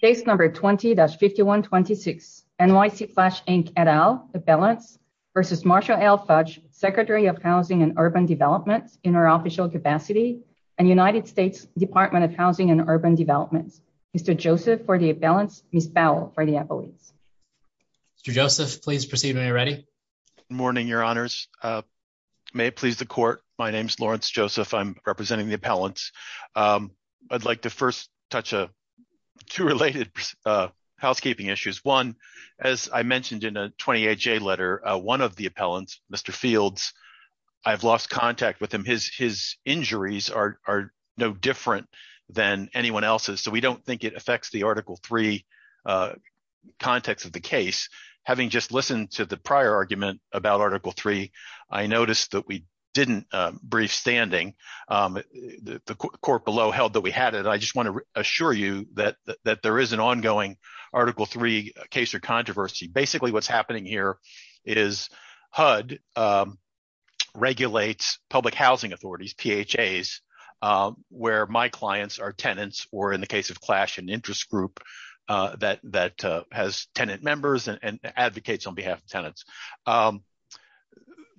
C.L.A.S.H., Inc., et al., Appellants v. Marcia L. Fudge, Secretary of Housing and Urban Development in her official capacity, and United States Department of Housing and Urban Development, Mr. Joseph for the appellants, Ms. Powell for the appellants. Mr. Joseph, please proceed when you're ready. Good morning, Your Honors. May it please the court, my name is Lawrence Joseph, I'm representing the appellants. I'd like to first touch on two related housekeeping issues. One, as I mentioned in a 28-J letter, one of the appellants, Mr. Fields, I've lost contact with him. His injuries are no different than anyone else's, so we don't think it affects the Article 3 context of the case. Having just listened to the prior argument about Article 3, I noticed that we didn't brief standing. The court below held that we had it. I just want to assure you that there is an ongoing Article 3 case or controversy. Basically what's happening here is HUD regulates public housing authorities, PHAs, where my clients are tenants, or in the case of Clash, an interest group that has tenant members and advocates on behalf of tenants.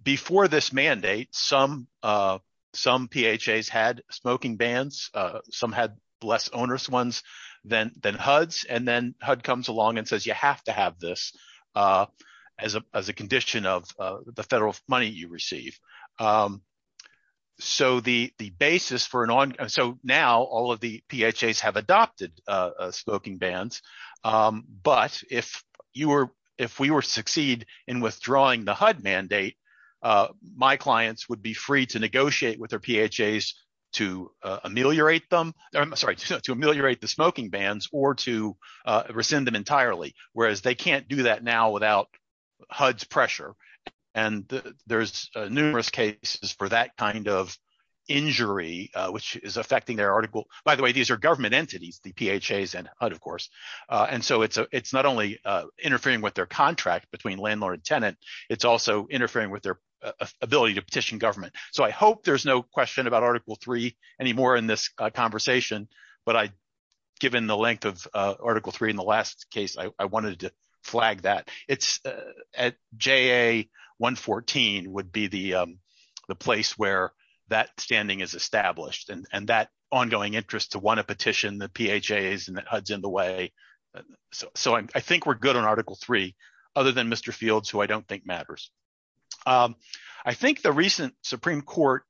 Before this mandate, some PHAs had smoking bans, some had less onerous ones than HUDs, and then HUD comes along and says you have to have this as a condition of the federal money you receive. So now all of the PHAs have adopted smoking bans, but if we were to succeed in withdrawing the HUD mandate, my clients would be free to negotiate with their PHAs to ameliorate the smoking bans or to rescind them entirely, whereas they can't do that now without HUD's pressure. There's numerous cases for that kind of injury, which is affecting their article. By the way, these are government entities, the PHAs and HUD, of course. So it's not only interfering with their contract between landlord and tenant, it's also interfering with their ability to petition government. So I hope there's no question about Article 3 anymore in this conversation, but given the length of Article 3 in the last case, I wanted to flag that. JA-114 would be the place where that standing is established and that ongoing interest to want to petition the PHAs and the HUDs in the way. So I think we're good on Article 3, other than Mr. Fields, who I don't think matters. I think the recent Supreme Court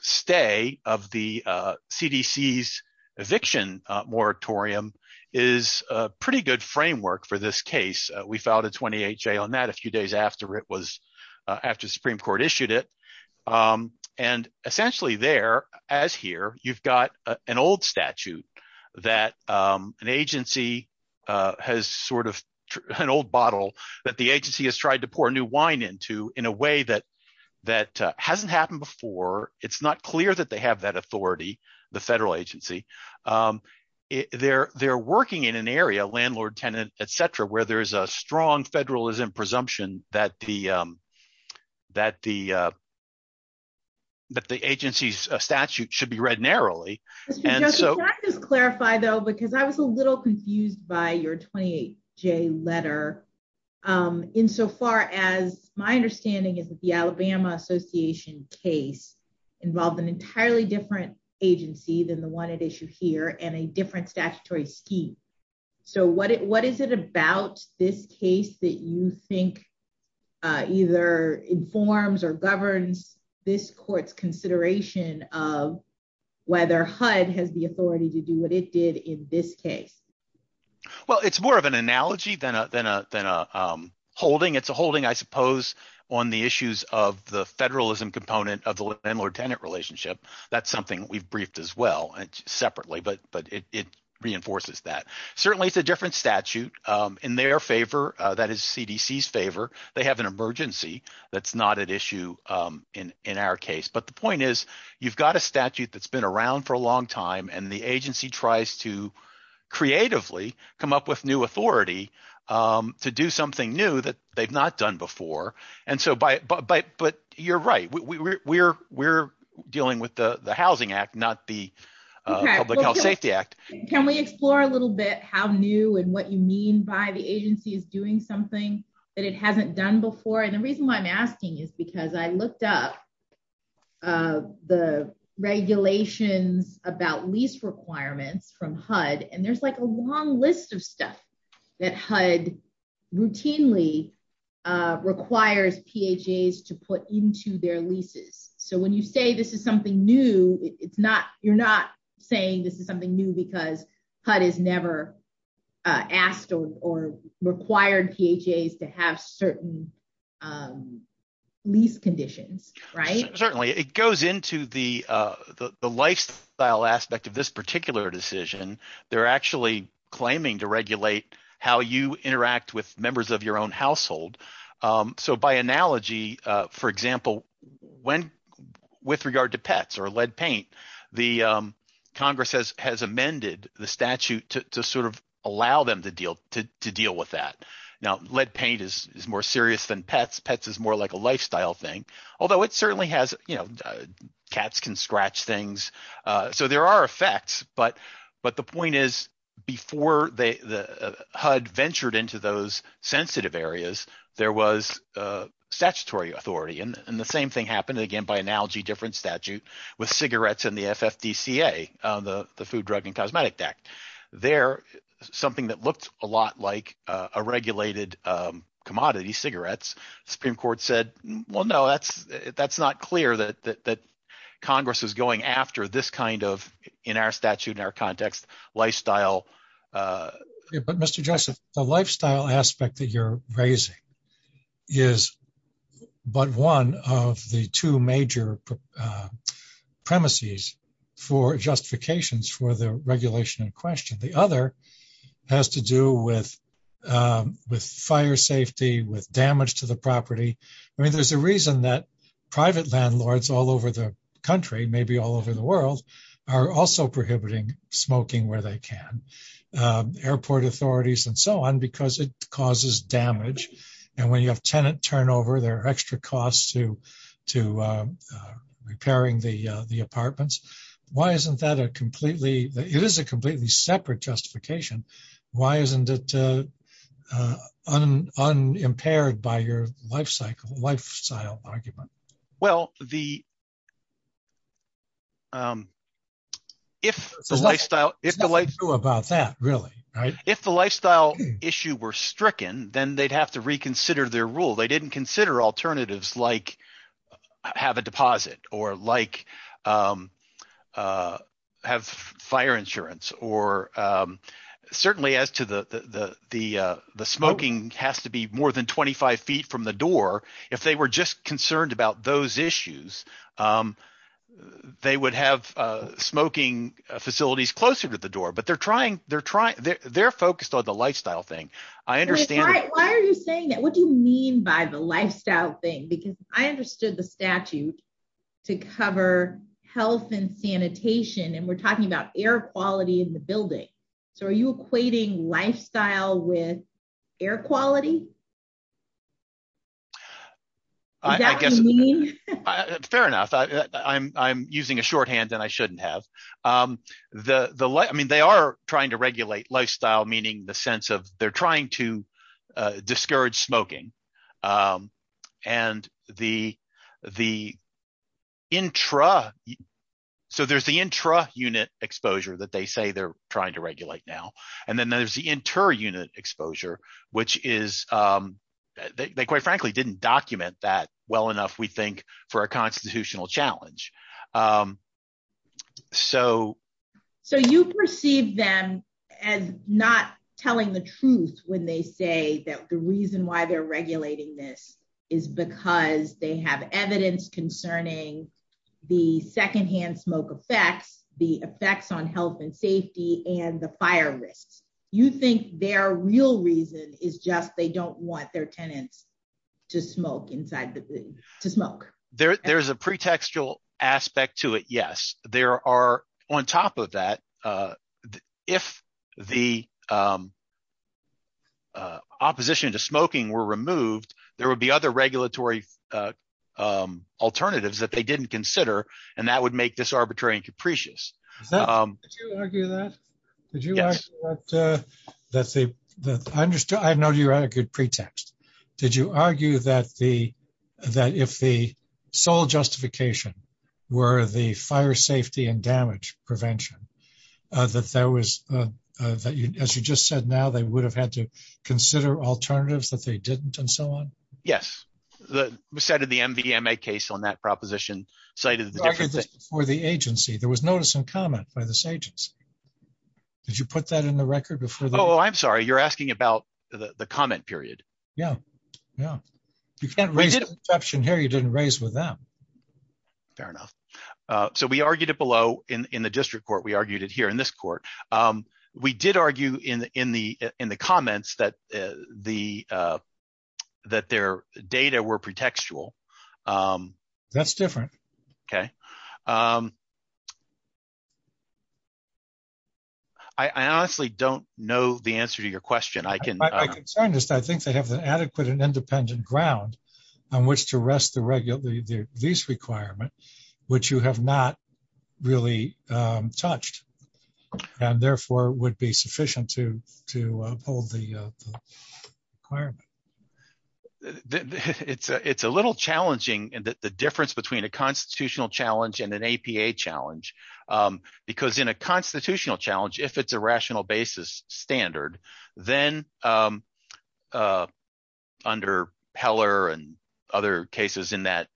stay of the CDC's eviction moratorium is a pretty good framework for this case. We filed a 28-J on that a few days after the Supreme Court issued it. And essentially there, as here, you've got an old statute that an agency has sort of – an old bottle that the agency has tried to pour new wine into in a way that hasn't happened before. It's not clear that they have that authority, the federal agency. They're working in an area, landlord, tenant, et cetera, where there's a strong federalism presumption that the agency's statute should be read narrowly. Can I just clarify, though, because I was a little confused by your 28-J letter insofar as my understanding is that the Alabama Association case involved an entirely different agency than the one at issue here and a different statutory scheme. So what is it about this case that you think either informs or governs this court's consideration of whether HUD has the authority to do what it did in this case? Well, it's more of an analogy than a holding. It's a holding I suppose on the issues of the federalism component of the landlord-tenant relationship. That's something we've briefed as well separately, but it reinforces that. Certainly it's a different statute in their favor. That is CDC's favor. They have an emergency that's not at issue in our case. But the point is you've got a statute that's been around for a long time, and the agency tries to creatively come up with new authority to do something new that they've not done before. But you're right. We're dealing with the Housing Act, not the Public Health Safety Act. Can we explore a little bit how new and what you mean by the agency is doing something that it hasn't done before? The reason why I'm asking is because I looked up the regulations about lease requirements from HUD, and there's like a long list of stuff that HUD routinely requires PHAs to put into their leases. So when you say this is something new, you're not saying this is something new because HUD has never asked or required PHAs to have certain lease conditions, right? Certainly. It goes into the lifestyle aspect of this particular decision. They're actually claiming to regulate how you interact with members of your own household. So by analogy, for example, when – with regard to pets or lead paint, the Congress has amended the statute to sort of allow them to deal with that. Now, lead paint is more serious than pets. Pets is more like a lifestyle thing, although it certainly has – cats can scratch things. So there are effects, but the point is before the HUD ventured into those sensitive areas, there was statutory authority, and the same thing happened again by analogy, different statute with cigarettes and the FFDCA, the Food, Drug, and Cosmetic Act. There, something that looked a lot like a regulated commodity, cigarettes, the Supreme Court said, well, no, that's not clear that Congress is going after this kind of, in our statute, in our context, lifestyle. But, Mr. Joseph, the lifestyle aspect that you're raising is but one of the two major premises for justifications for the regulation in question. The other has to do with fire safety, with damage to the property. I mean, there's a reason that private landlords all over the country, maybe all over the world, are also prohibiting smoking where they can, airport authorities and so on, because it causes damage. And when you have tenant turnover, there are extra costs to repairing the apartments. Why isn't that a completely – it is a completely separate justification. Why isn't it unimpaired by your lifestyle argument? Well, the – if the lifestyle – if the lifestyle issue were stricken, then they'd have to reconsider their rule. They didn't consider alternatives like have a deposit or like have fire insurance or – certainly as to the smoking has to be more than 25 feet from the door. If they were just concerned about those issues, they would have smoking facilities closer to the door. But they're trying – they're focused on the lifestyle thing. I understand – Why are you saying that? What do you mean by the lifestyle thing? Because I understood the statute to cover health and sanitation, and we're talking about air quality in the building. So are you equating lifestyle with air quality? Is that what you mean? Fair enough. I'm using a shorthand that I shouldn't have. I mean they are trying to regulate lifestyle, meaning the sense of they're trying to discourage smoking. And the intra – so there's the intra-unit exposure that they say they're trying to regulate now, and then there's the inter-unit exposure, which is – they quite frankly didn't document that well enough we think for a constitutional challenge. So – So you perceive them as not telling the truth when they say that the reason why they're regulating this is because they have evidence concerning the secondhand smoke effects, the effects on health and safety, and the fire risks. You think their real reason is just they don't want their tenants to smoke inside the building – to smoke. There is a pretextual aspect to it, yes. There are – on top of that, if the opposition to smoking were removed, there would be other regulatory alternatives that they didn't consider, and that would make this arbitrary and capricious. Did you argue that? Yes. I know you argued pretext. Did you argue that the – that if the sole justification were the fire safety and damage prevention, that there was – as you just said now, they would have had to consider alternatives that they didn't and so on? Yes. We cited the MVMA case on that proposition, cited the different things. You argued this before the agency. There was notice and comment by this agency. Did you put that in the record before the –? Oh, I'm sorry. You're asking about the comment period. Yeah. Yeah. You can't raise an exception here you didn't raise with them. Fair enough. So we argued it below in the district court. We argued it here in this court. We did argue in the comments that the – that their data were pretextual. That's different. Okay. I honestly don't know the answer to your question. My concern is I think they have an adequate and independent ground on which to rest the lease requirement, which you have not really touched, and therefore would be sufficient to uphold the requirement. It's a little challenging, the difference between a constitutional challenge and an APA challenge because in a constitutional challenge, if it's a rational basis standard, then under Peller and other cases in that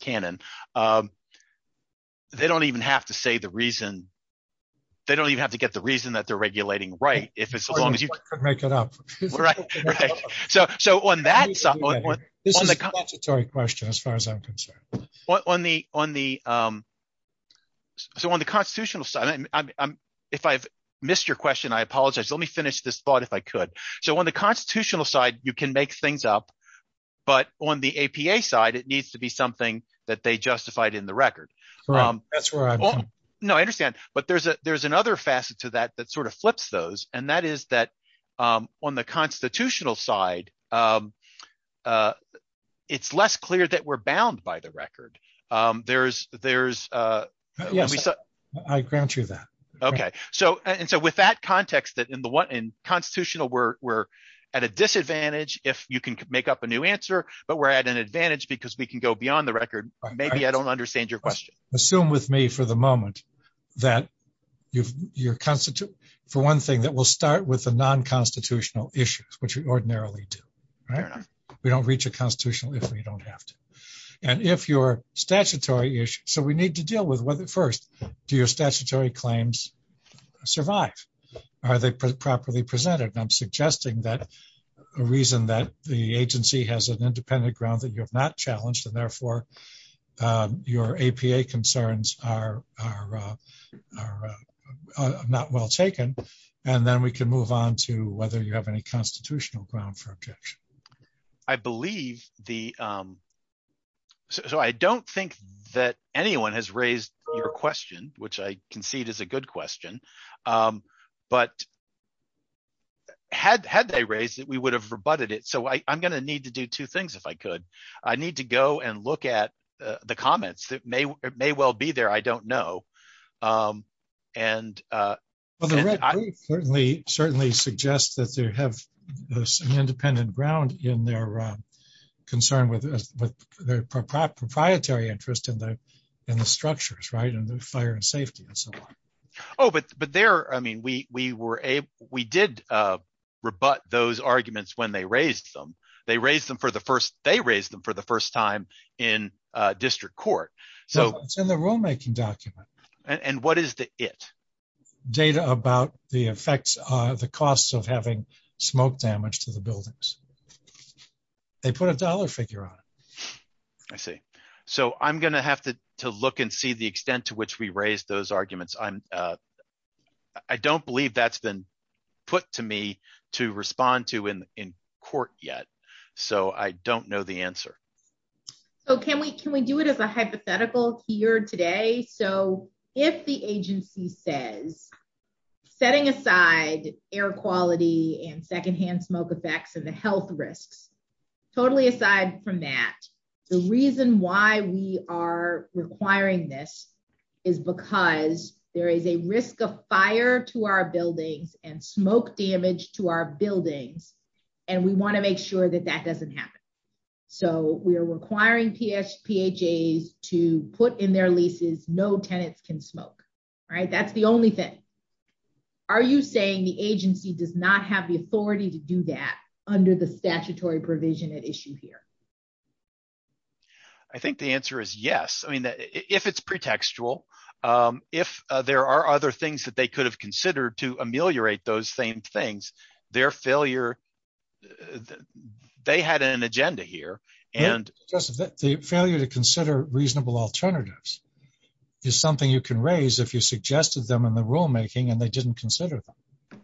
canon, they don't even have to say the reason – they don't even have to get the reason that they're regulating right if it's as long as you – Right, right. So on that – This is a statutory question as far as I'm concerned. On the – so on the constitutional side – if I've missed your question, I apologize. Let me finish this thought if I could. So on the constitutional side, you can make things up, but on the APA side, it needs to be something that they justified in the record. That's where I'm coming from. No, I understand. But there's another facet to that that sort of flips those, and that is that on the constitutional side, it's less clear that we're bound by the record. There's – Yes. I grant you that. Okay. And so with that context that in constitutional, we're at a disadvantage if you can make up a new answer, but we're at an advantage because we can go beyond the record. Maybe I don't understand your question. Assume with me for the moment that your – for one thing, that we'll start with the non-constitutional issues, which we ordinarily do. Right? We don't reach a constitutional issue. We don't have to. And if your statutory issue – so we need to deal with, first, do your statutory claims survive? Are they properly presented? I'm suggesting that – a reason that the agency has an independent ground that you have not challenged, and therefore your APA concerns are not well taken. And then we can move on to whether you have any constitutional ground for objection. I believe the – so I don't think that anyone has raised your question, which I concede is a good question. But had they raised it, we would have rebutted it. So I'm going to need to do two things if I could. I need to go and look at the comments that may well be there. I don't know. And – Well, the red group certainly suggests that they have some independent ground in their concern with their proprietary interest in the structures, right, and the fire and safety and so on. Oh, but there – I mean we were – we did rebut those arguments when they raised them. They raised them for the first – they raised them for the first time in district court. It's in the rulemaking document. And what is the it? Data about the effects – the costs of having smoke damage to the buildings. They put a dollar figure on it. I see. So I'm going to have to look and see the extent to which we raised those arguments. I don't believe that's been put to me to respond to in court yet. So I don't know the answer. So can we do it as a hypothetical here today? Okay, so if the agency says setting aside air quality and secondhand smoke effects and the health risks, totally aside from that, the reason why we are requiring this is because there is a risk of fire to our buildings and smoke damage to our buildings, and we want to make sure that that doesn't happen. So we are requiring PHAs to put in their leases no tenants can smoke. That's the only thing. Are you saying the agency does not have the authority to do that under the statutory provision at issue here? I think the answer is yes. If it's pretextual, if there are other things that they could have considered to ameliorate those same things, their failure – they had an agenda here. The failure to consider reasonable alternatives is something you can raise if you suggested them in the rulemaking and they didn't consider them.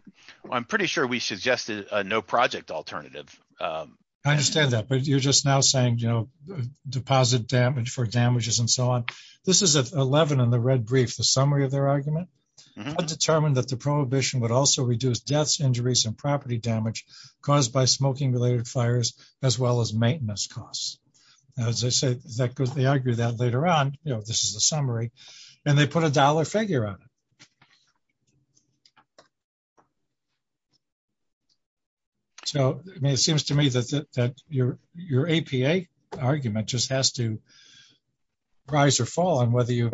I'm pretty sure we suggested a no project alternative. I understand that, but you're just now saying deposit damage for damages and so on. This is 11 in the red brief, the summary of their argument. Determined that the prohibition would also reduce deaths, injuries, and property damage caused by smoking-related fires, as well as maintenance costs. As I said, they argue that later on, this is the summary, and they put a dollar figure on it. So it seems to me that your APA argument just has to rise or fall on whether you've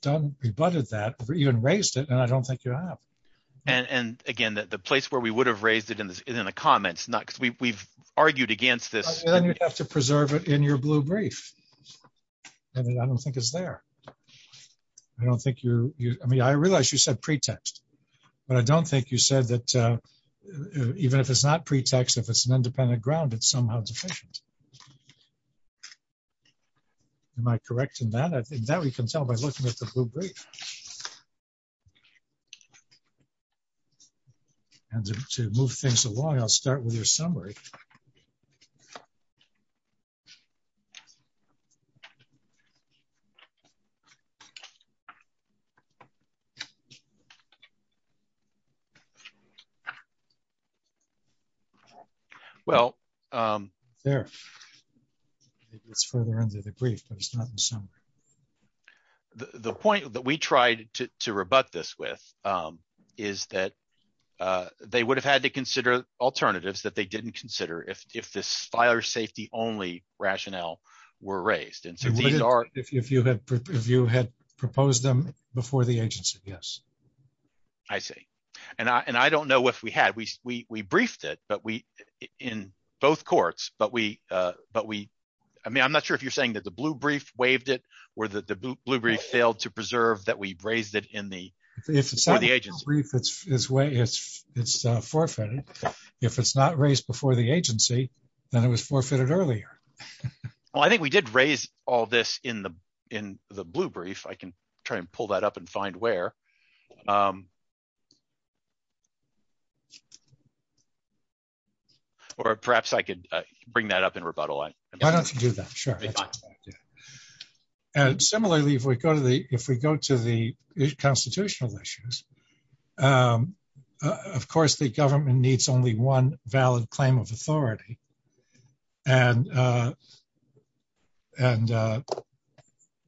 done – rebutted that or even raised it, and I don't think you have. And, again, the place where we would have raised it is in the comments, not because we've argued against this. Then you'd have to preserve it in your blue brief, and I don't think it's there. I don't think you – I mean, I realize you said pretext, but I don't think you said that even if it's not pretext, if it's an independent ground, it's somehow deficient. Am I correct in that? In that, we can tell by looking at the blue brief. And to move things along, I'll start with your summary. Well – There. It's further into the brief, but it's not in the summary. The point that we tried to rebut this with is that they would have had to consider alternatives that they didn't consider if this fire safety-only rationale were raised. If you had proposed them before the agency, yes. I see. And I don't know if we had. We briefed it, but we – in both courts, but we – I mean I'm not sure if you're saying that the blue brief waived it or that the blue brief failed to preserve that we raised it in the – for the agency. If it's not in the blue brief, it's forfeited. If it's not raised before the agency, then it was forfeited earlier. Well, I think we did raise all this in the blue brief. I can try and pull that up and find where. Or perhaps I could bring that up in rebuttal. Why don't you do that? Sure. And similarly, if we go to the constitutional issues, of course the government needs only one valid claim of authority. And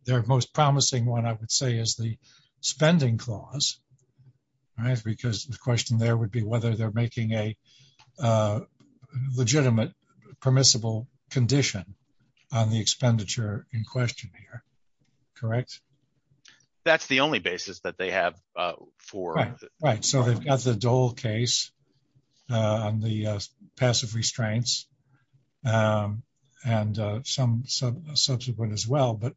their most promising one, I would say, is the spending clause because the question there would be whether they're making a legitimate permissible condition on the expenditure in question here. Correct? That's the only basis that they have for – on the passive restraints and some subsequent as well, but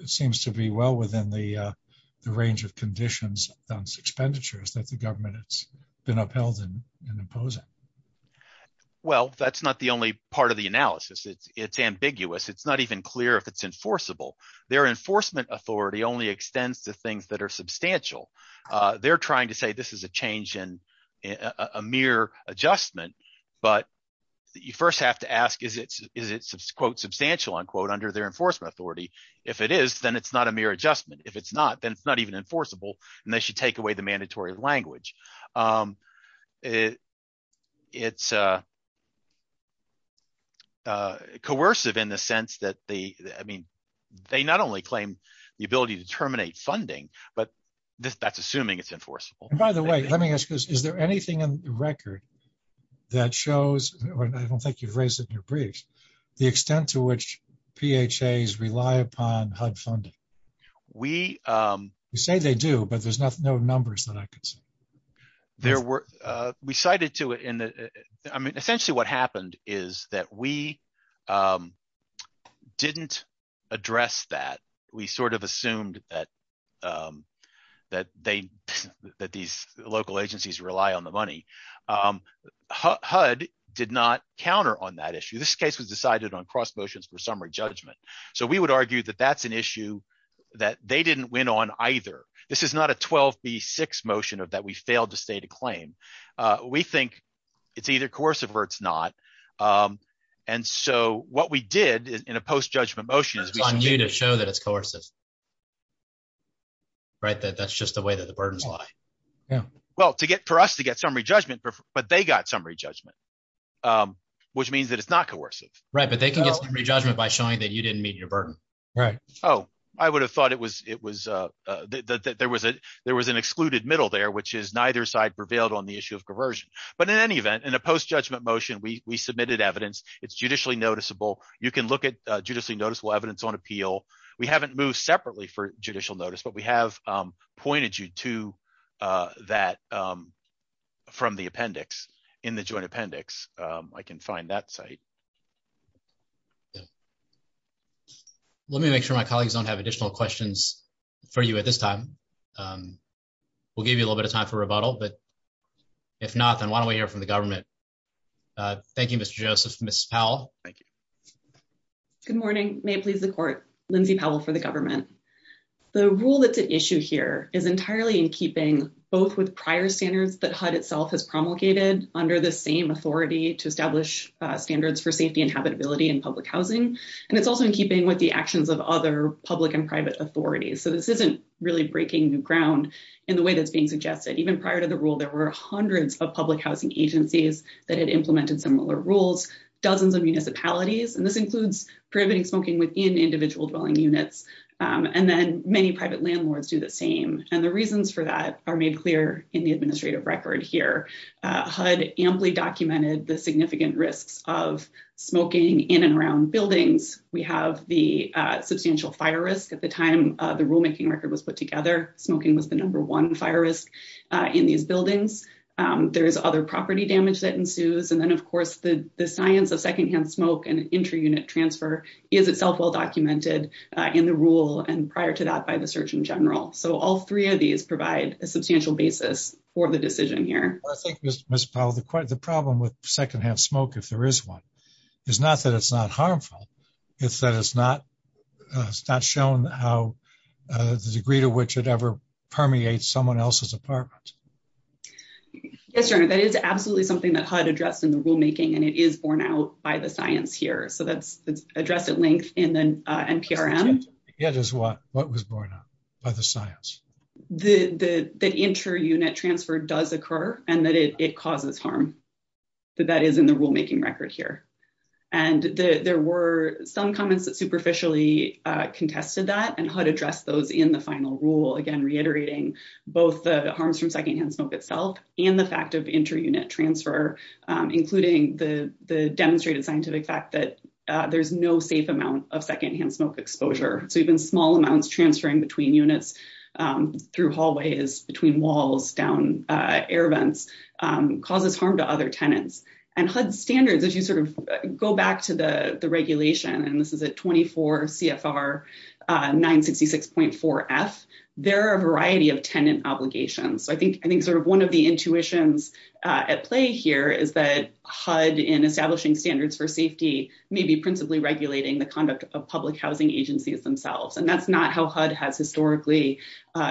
it seems to be well within the range of conditions on expenditures that the government has been upheld in imposing. Well, that's not the only part of the analysis. It's ambiguous. It's not even clear if it's enforceable. Their enforcement authority only extends to things that are substantial. They're trying to say this is a change in – a mere adjustment, but you first have to ask is it, quote, substantial, unquote, under their enforcement authority. If it is, then it's not a mere adjustment. If it's not, then it's not even enforceable, and they should take away the mandatory language. It's coercive in the sense that they – I mean they not only claim the ability to terminate funding, but that's assuming it's enforceable. By the way, let me ask this. Is there anything in the record that shows – I don't think you've raised it in your briefs – the extent to which PHAs rely upon HUD funding? We – You say they do, but there's no numbers that I can see. There were – we cited to – I mean essentially what happened is that we didn't address that. We sort of assumed that they – that these local agencies rely on the money. HUD did not counter on that issue. This case was decided on cross motions for summary judgment. So we would argue that that's an issue that they didn't win on either. This is not a 12B6 motion that we failed to state a claim. We think it's either coercive or it's not. And so what we did in a post-judgment motion is we – It's on you to show that it's coercive, that that's just the way that the burdens lie. Well, to get – for us to get summary judgment, but they got summary judgment, which means that it's not coercive. Right, but they can get summary judgment by showing that you didn't meet your burden. Right. Oh, I would have thought it was – there was an excluded middle there, which is neither side prevailed on the issue of coercion. But in any event, in a post-judgment motion, we submitted evidence. It's judicially noticeable. You can look at judicially noticeable evidence on appeal. We haven't moved separately for judicial notice, but we have pointed you to that from the appendix, in the joint appendix. I can find that site. Let me make sure my colleagues don't have additional questions for you at this time. We'll give you a little bit of time for rebuttal, but if not, then why don't we hear from the government? Thank you, Mr. Joseph. Ms. Powell? Thank you. Good morning. May it please the court. Lindsay Powell for the government. The rule that's at issue here is entirely in keeping both with prior standards that HUD itself has promulgated under the same authority to establish standards for safety and habitability in public housing, and it's also in keeping with the actions of other public and private authorities. So this isn't really breaking new ground in the way that's being suggested. Even prior to the rule, there were hundreds of public housing agencies that had implemented similar rules, dozens of municipalities, and this includes prohibiting smoking within individual dwelling units, and then many private landlords do the same. And the reasons for that are made clear in the administrative record here. HUD amply documented the significant risks of smoking in and around buildings. We have the substantial fire risk at the time the rulemaking record was put together. Smoking was the number one fire risk in these buildings. There is other property damage that ensues. And then, of course, the science of secondhand smoke and inter-unit transfer is itself well documented in the rule and prior to that by the search in general. So all three of these provide a substantial basis for the decision here. I think, Ms. Powell, the problem with secondhand smoke, if there is one, is not that it's not harmful. It's that it's not shown how the degree to which it ever permeates someone else's apartment. Yes, Your Honor, that is absolutely something that HUD addressed in the rulemaking, and it is borne out by the science here. So that's addressed at length in the NPRM. It is what? What was borne out by the science? That inter-unit transfer does occur and that it causes harm. That is in the rulemaking record here. And there were some comments that superficially contested that, and HUD addressed those in the final rule, again, reiterating both the harms from secondhand smoke itself and the fact of inter-unit transfer, including the demonstrated scientific fact that there's no safe amount of secondhand smoke exposure. So even small amounts transferring between units through hallways, between walls, down air vents, causes harm to other tenants. And HUD standards, as you sort of go back to the regulation, and this is at 24 CFR 966.4F, there are a variety of tenant obligations. So I think sort of one of the intuitions at play here is that HUD, in establishing standards for safety, may be principally regulating the conduct of public housing agencies themselves. And that's not how HUD has historically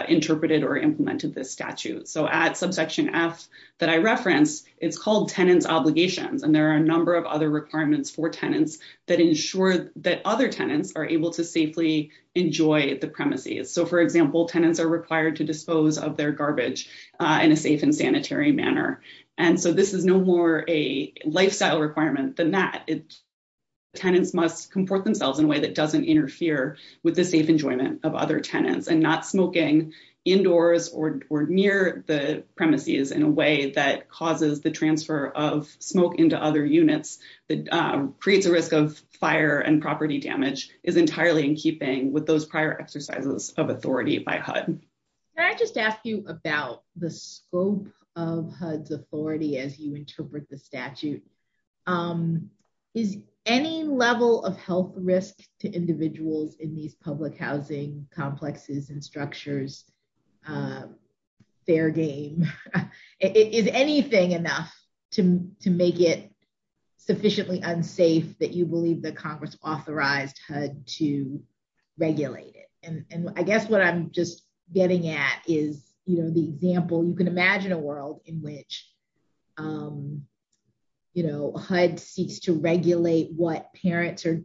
interpreted or implemented this statute. So at subsection F that I referenced, it's called tenants obligations. And there are a number of other requirements for tenants that ensure that other tenants are able to safely enjoy the premises. So for example, tenants are required to dispose of their garbage in a safe and sanitary manner. And so this is no more a lifestyle requirement than that. Tenants must comport themselves in a way that doesn't interfere with the safe enjoyment of other tenants. And not smoking indoors or near the premises in a way that causes the transfer of smoke into other units, that creates a risk of fire and property damage, is entirely in keeping with those prior exercises of authority by HUD. Can I just ask you about the scope of HUD's authority as you interpret the statute? Is any level of health risk to individuals in these public housing complexes and structures fair game? Is anything enough to make it sufficiently unsafe that you believe that Congress authorized HUD to regulate it? And I guess what I'm just getting at is, you know, the example, you can imagine a world in which, you know, HUD seeks to regulate what parents are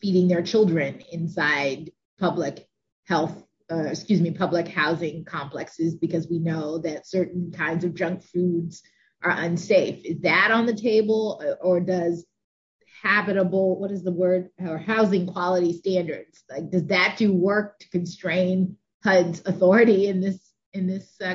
feeding their children inside public health, excuse me, public housing complexes, because we know that certain kinds of junk foods are unsafe. Is that on the table or does habitable, what is the word, or housing quality standards, does that do work to constrain HUD's authority in this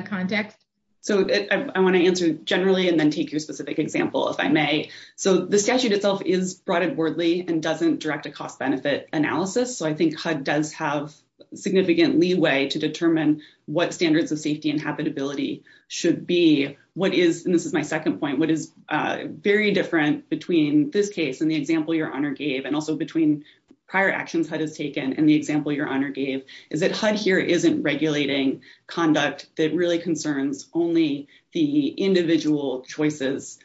context? So I want to answer generally and then take your specific example, if I may. So the statute itself is broad and wordly and doesn't direct a cost benefit analysis. So I think HUD does have significant leeway to determine what standards of safety and habitability should be. What is, and this is my second point, what is very different between this case and the example your honor gave, and also between prior actions HUD has taken and the example your honor gave, is that HUD here isn't regulating conduct that really concerns only the individual choices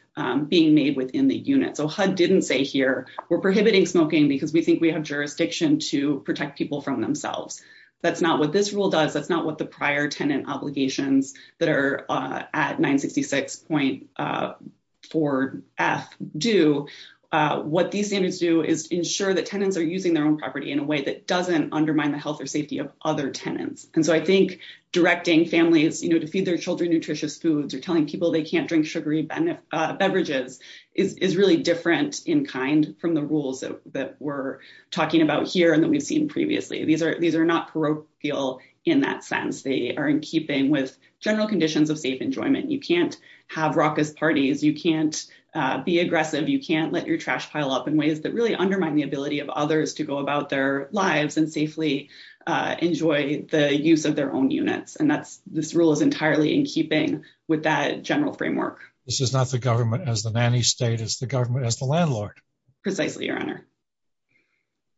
being made within the unit. So HUD didn't say here, we're prohibiting smoking because we think we have jurisdiction to protect people from themselves. That's not what this rule does, that's not what the prior tenant obligations that are at 966.4F do. So what these standards do is ensure that tenants are using their own property in a way that doesn't undermine the health or safety of other tenants. And so I think directing families to feed their children nutritious foods or telling people they can't drink sugary beverages is really different in kind from the rules that we're talking about here and that we've seen previously. These are not parochial in that sense. They are in keeping with general conditions of safe enjoyment. You can't have raucous parties, you can't be aggressive, you can't let your trash pile up in ways that really undermine the ability of others to go about their lives and safely enjoy the use of their own units. And this rule is entirely in keeping with that general framework. This is not the government as the nanny state, it's the government as the landlord. Precisely, your honor.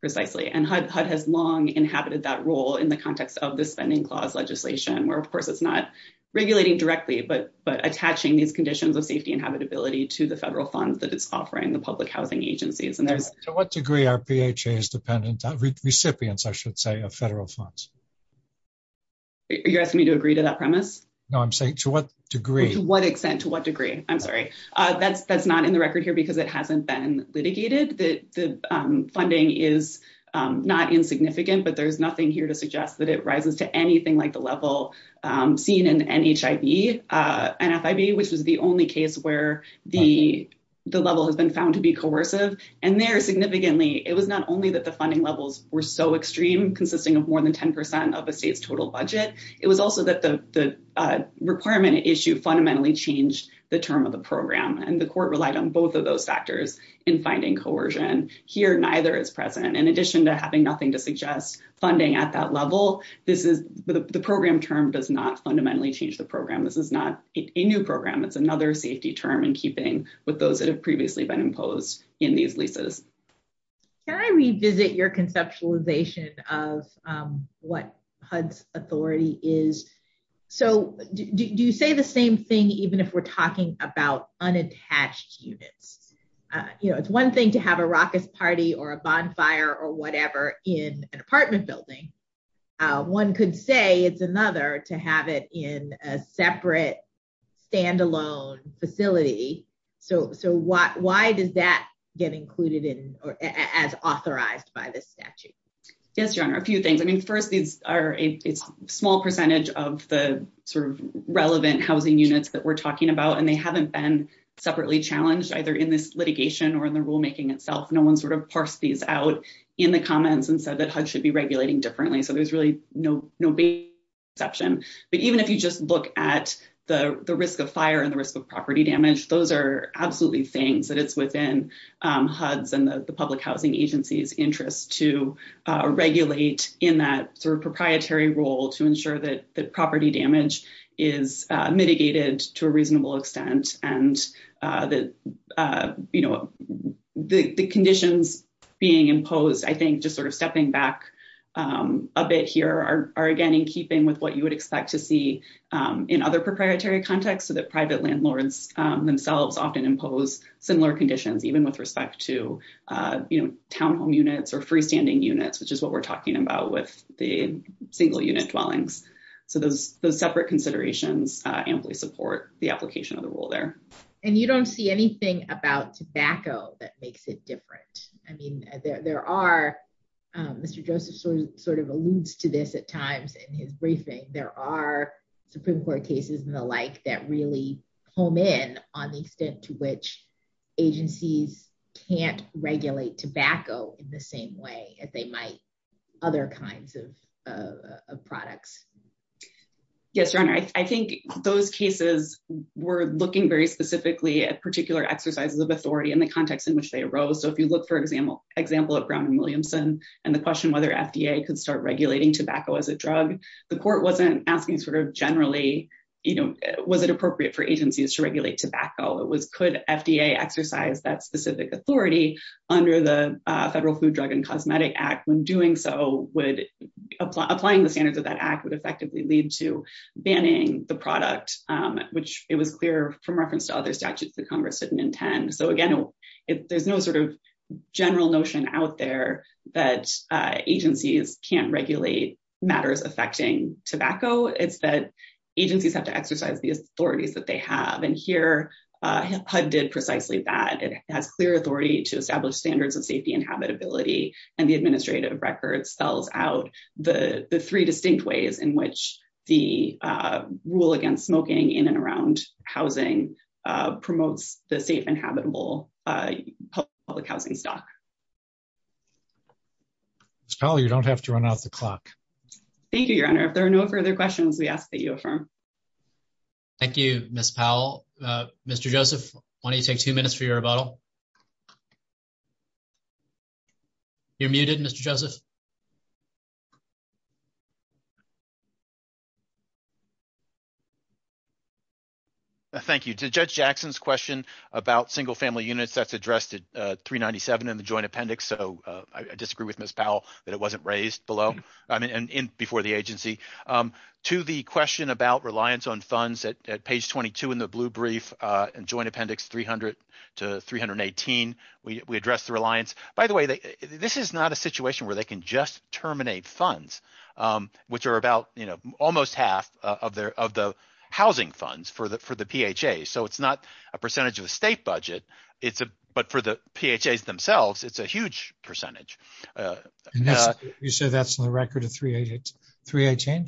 Precisely, and HUD has long inhabited that role in the context of the Spending Clause legislation, where of course it's not regulating directly but attaching these conditions of safety and habitability to the federal funds that it's offering the public housing agencies. To what degree are PHA's recipients of federal funds? You're asking me to agree to that premise? No, I'm saying to what degree. To what extent, to what degree, I'm sorry. That's not in the record here because it hasn't been litigated. The funding is not insignificant, but there's nothing here to suggest that it rises to anything like the level seen in NHIB, NFIB, which was the only case where the level has been found to be coercive. And there, significantly, it was not only that the funding levels were so extreme, consisting of more than 10% of a state's total budget, it was also that the requirement issue fundamentally changed the term of the program. And the court relied on both of those factors in finding coercion. Here, neither is present. In addition to having nothing to suggest funding at that level, the program term does not fundamentally change the program. This is not a new program. It's another safety term in keeping with those that have previously been imposed in these leases. Can I revisit your conceptualization of what HUD's authority is? So, do you say the same thing even if we're talking about unattached units? You know, it's one thing to have a raucous party or a bonfire or whatever in an apartment building. One could say it's another to have it in a separate, standalone facility. So, why does that get included as authorized by this statute? Yes, Your Honor, a few things. I mean, first, these are a small percentage of the sort of relevant housing units that we're talking about, and they haven't been separately challenged, either in this litigation or in the rulemaking itself. No one sort of parsed these out in the comments and said that HUD should be regulating differently. So, there's really no big exception. But even if you just look at the risk of fire and the risk of property damage, those are absolutely things that it's within HUD's and the public housing agency's interest to regulate in that sort of proprietary role to ensure that the property damage is mitigated to a reasonable extent. The conditions being imposed, I think, just sort of stepping back a bit here, are again in keeping with what you would expect to see in other proprietary contexts, so that private landlords themselves often impose similar conditions, even with respect to townhome units or freestanding units, which is what we're talking about with the single-unit dwellings. So, those separate considerations amply support the application of the rule there. And you don't see anything about tobacco that makes it different. I mean, there are, Mr. Joseph sort of alludes to this at times in his briefing, there are Supreme Court cases and the like that really home in on the extent to which agencies can't regulate tobacco in the same way as they might other kinds of products. Yes, Your Honor, I think those cases were looking very specifically at particular exercises of authority in the context in which they arose. So, if you look, for example, at Brown and Williamson and the question whether FDA could start regulating tobacco as a drug, the court wasn't asking sort of generally, you know, was it appropriate for agencies to regulate tobacco? It was could FDA exercise that specific authority under the Federal Food, Drug, and Cosmetic Act? When doing so, applying the standards of that act would effectively lead to banning the product, which it was clear from reference to other statutes that Congress didn't intend. So again, there's no sort of general notion out there that agencies can't regulate matters affecting tobacco. It's that agencies have to exercise the authorities that they have and here HUD did precisely that. It has clear authority to establish standards of safety and habitability and the administrative record spells out the three distinct ways in which the rule against smoking in and around housing promotes the safe and habitable public housing stock. You don't have to run out the clock. Thank you, Your Honor. If there are no further questions, we ask that you affirm. Thank you, Miss Powell. Mr. Joseph, why don't you take two minutes for your rebuttal? You're muted, Mr. Joseph. Thank you. To Judge Jackson's question about single family units, that's addressed at 397 in the joint appendix. So I disagree with Miss Powell that it wasn't raised below and before the agency. To the question about reliance on funds at page 22 in the blue brief and joint appendix 300 to 318, we address the reliance. By the way, this is not a situation where they can just terminate funds, which are about almost half of the housing funds for the PHAs. So it's not a percentage of the state budget, but for the PHAs themselves, it's a huge percentage. You said that's on the record at 318?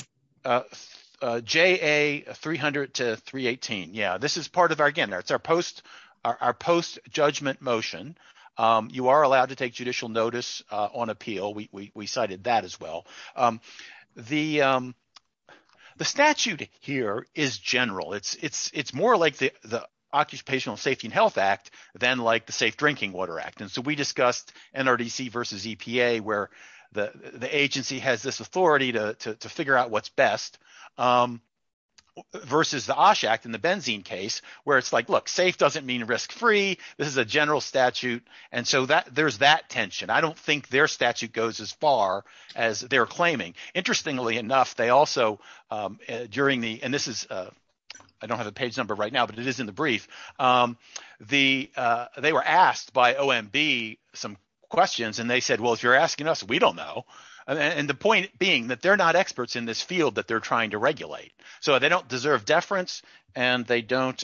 J.A. 300 to 318. Yeah, this is part of our again, it's our post our post judgment motion. You are allowed to take judicial notice on appeal. We cited that as well. The the statute here is general. It's it's it's more like the Occupational Safety and Health Act than like the Safe Drinking Water Act. And so we discussed NRDC versus EPA, where the agency has this authority to figure out what's best versus the Osh Act in the benzene case where it's like, look, safe doesn't mean risk free. This is a general statute. And so there's that tension. I don't think their statute goes as far as they're claiming. Interestingly enough, they also during the and this is I don't have a page number right now, but it is in the brief. The they were asked by OMB some questions and they said, well, if you're asking us, we don't know. And the point being that they're not experts in this field that they're trying to regulate. So they don't deserve deference and they don't.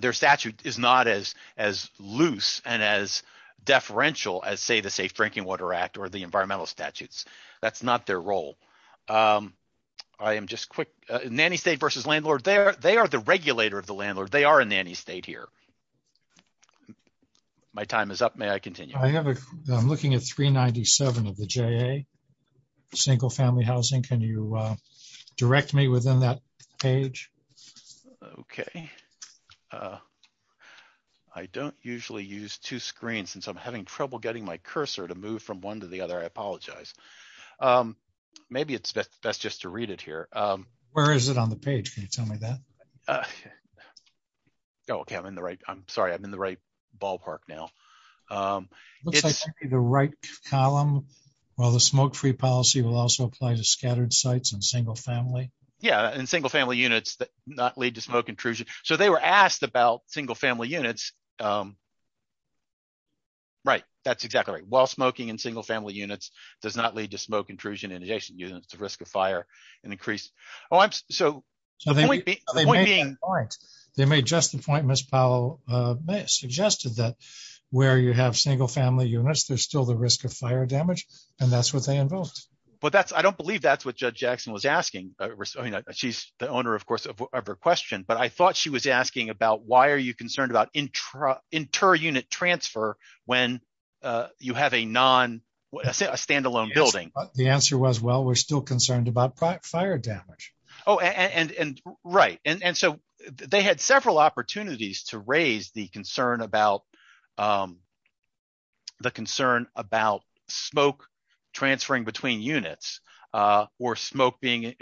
Their statute is not as as loose and as deferential as, say, the Safe Drinking Water Act or the environmental statutes. That's not their role. I am just quick. Nanny state versus landlord there. They are the regulator of the landlord. They are a nanny state here. My time is up. May I continue? I have a I'm looking at three ninety seven of the J.A. Single family housing. Can you direct me within that page? OK. I don't usually use two screens since I'm having trouble getting my cursor to move from one to the other. I apologize. Maybe it's best just to read it here. Where is it on the page? Can you tell me that? OK, I'm in the right. I'm sorry. I'm in the right ballpark now. It's the right column. Well, the smoke free policy will also apply to scattered sites and single family. Yeah. And single family units that not lead to smoke intrusion. So they were asked about single family units. Right. That's exactly right. Well, smoking in single family units does not lead to smoke intrusion in addition to the risk of fire and increase. Oh, I'm so happy. They made just the point. Miss Powell suggested that where you have single family units, there's still the risk of fire damage. And that's what they invoked. But that's I don't believe that's what Judge Jackson was asking. She's the owner, of course, of her question. But I thought she was asking about why are you concerned about intra inter unit transfer when you have a non stand alone building? The answer was, well, we're still concerned about fire damage. Oh, and right. And so they had several opportunities to raise the concern about. The concern about smoke transferring between units or smoke being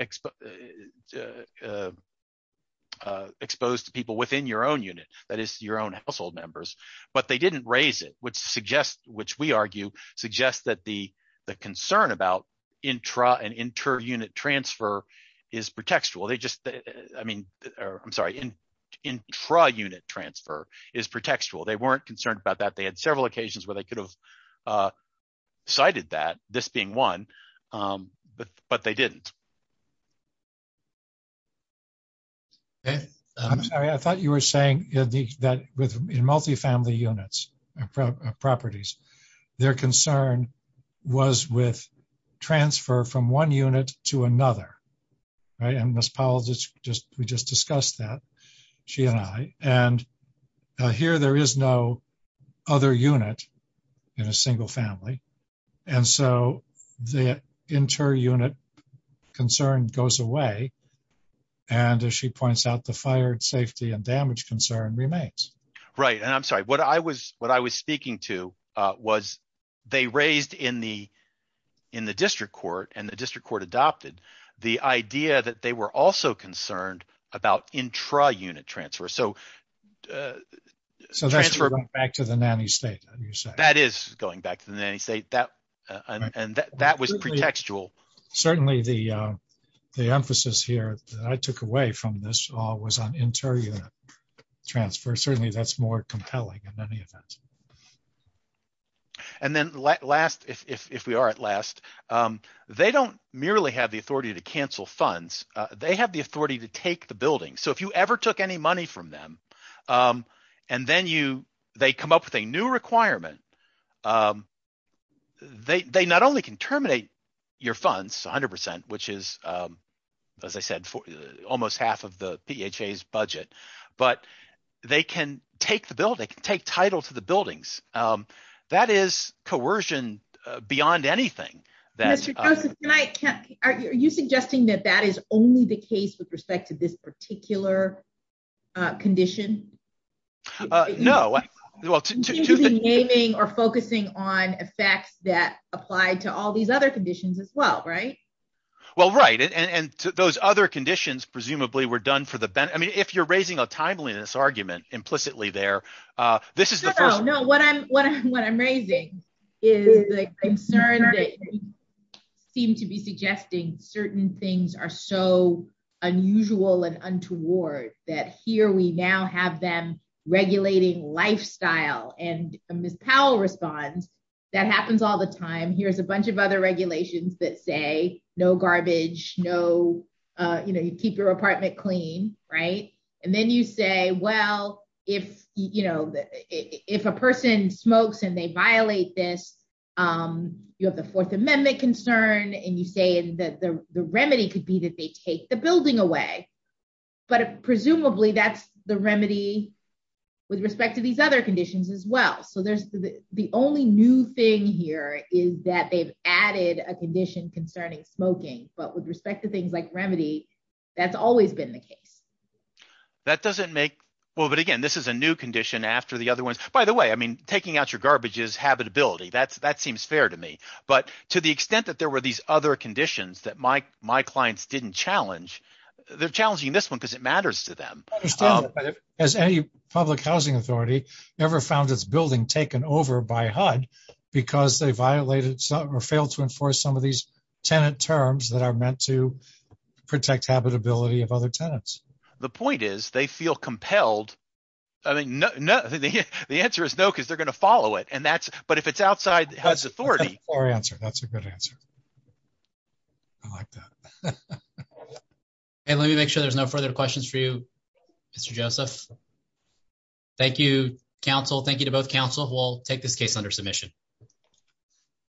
exposed to people within your own unit, that is your own household members. But they didn't raise it, which suggests, which we argue suggests that the concern about intra and inter unit transfer is pretextual. They just, I mean, I'm sorry, in intra unit transfer is pretextual. They weren't concerned about that. They had several occasions where they could have cited that, this being one. But, but they didn't. I'm sorry, I thought you were saying that with multifamily units properties, their concern was with transfer from one unit to another. Right, and this policy just we just discussed that she and I, and here there is no other unit in a single family. And so the inter unit concern goes away. And as she points out, the fire safety and damage concern remains. Right. And I'm sorry, what I was what I was speaking to was they raised in the in the district court and the district court adopted the idea that they were also concerned about intra unit transfer. So that's going back to the nanny state. That is going back to the nanny state that and that was pretextual. Certainly, the the emphasis here that I took away from this was on inter unit transfer. Certainly, that's more compelling in many events. And then last, if we are at last, they don't merely have the authority to cancel funds. They have the authority to take the building. So if you ever took any money from them and then you they come up with a new requirement, they not only can terminate your funds, 100 percent, which is, as I said, almost half of the budget. But they can take the bill, they can take title to the buildings. That is coercion beyond anything that I can. Are you suggesting that that is only the case with respect to this particular condition? No. Well, naming or focusing on effects that apply to all these other conditions as well. Right. Well, right. And those other conditions presumably were done for the benefit. I mean, if you're raising a timeliness argument implicitly there, this is the first. No, no. What I'm what I'm what I'm raising is the concern that seem to be suggesting certain things are so unusual and untoward that here we now have them regulating lifestyle. Well, and Miss Powell responds, that happens all the time. Here's a bunch of other regulations that say no garbage, no. You know, you keep your apartment clean. Right. And then you say, well, if you know that if a person smokes and they violate this, you have the Fourth Amendment concern and you say that the remedy could be that they take the building away. But presumably that's the remedy with respect to these other conditions as well. So there's the only new thing here is that they've added a condition concerning smoking. But with respect to things like remedy, that's always been the case that doesn't make. Well, but again, this is a new condition after the other ones. By the way, I mean, taking out your garbage is habitability. That's that seems fair to me. But to the extent that there were these other conditions that my my clients didn't challenge, they're challenging this one because it matters to them. As any public housing authority ever found its building taken over by HUD because they violated or failed to enforce some of these tenant terms that are meant to protect habitability of other tenants. The point is they feel compelled. I mean, no, no. The answer is no, because they're going to follow it. And that's but if it's outside HUD's authority or answer, that's a good answer. I like that. And let me make sure there's no further questions for you, Mr. Joseph. Thank you, counsel. Thank you to both counsel. We'll take this case under submission.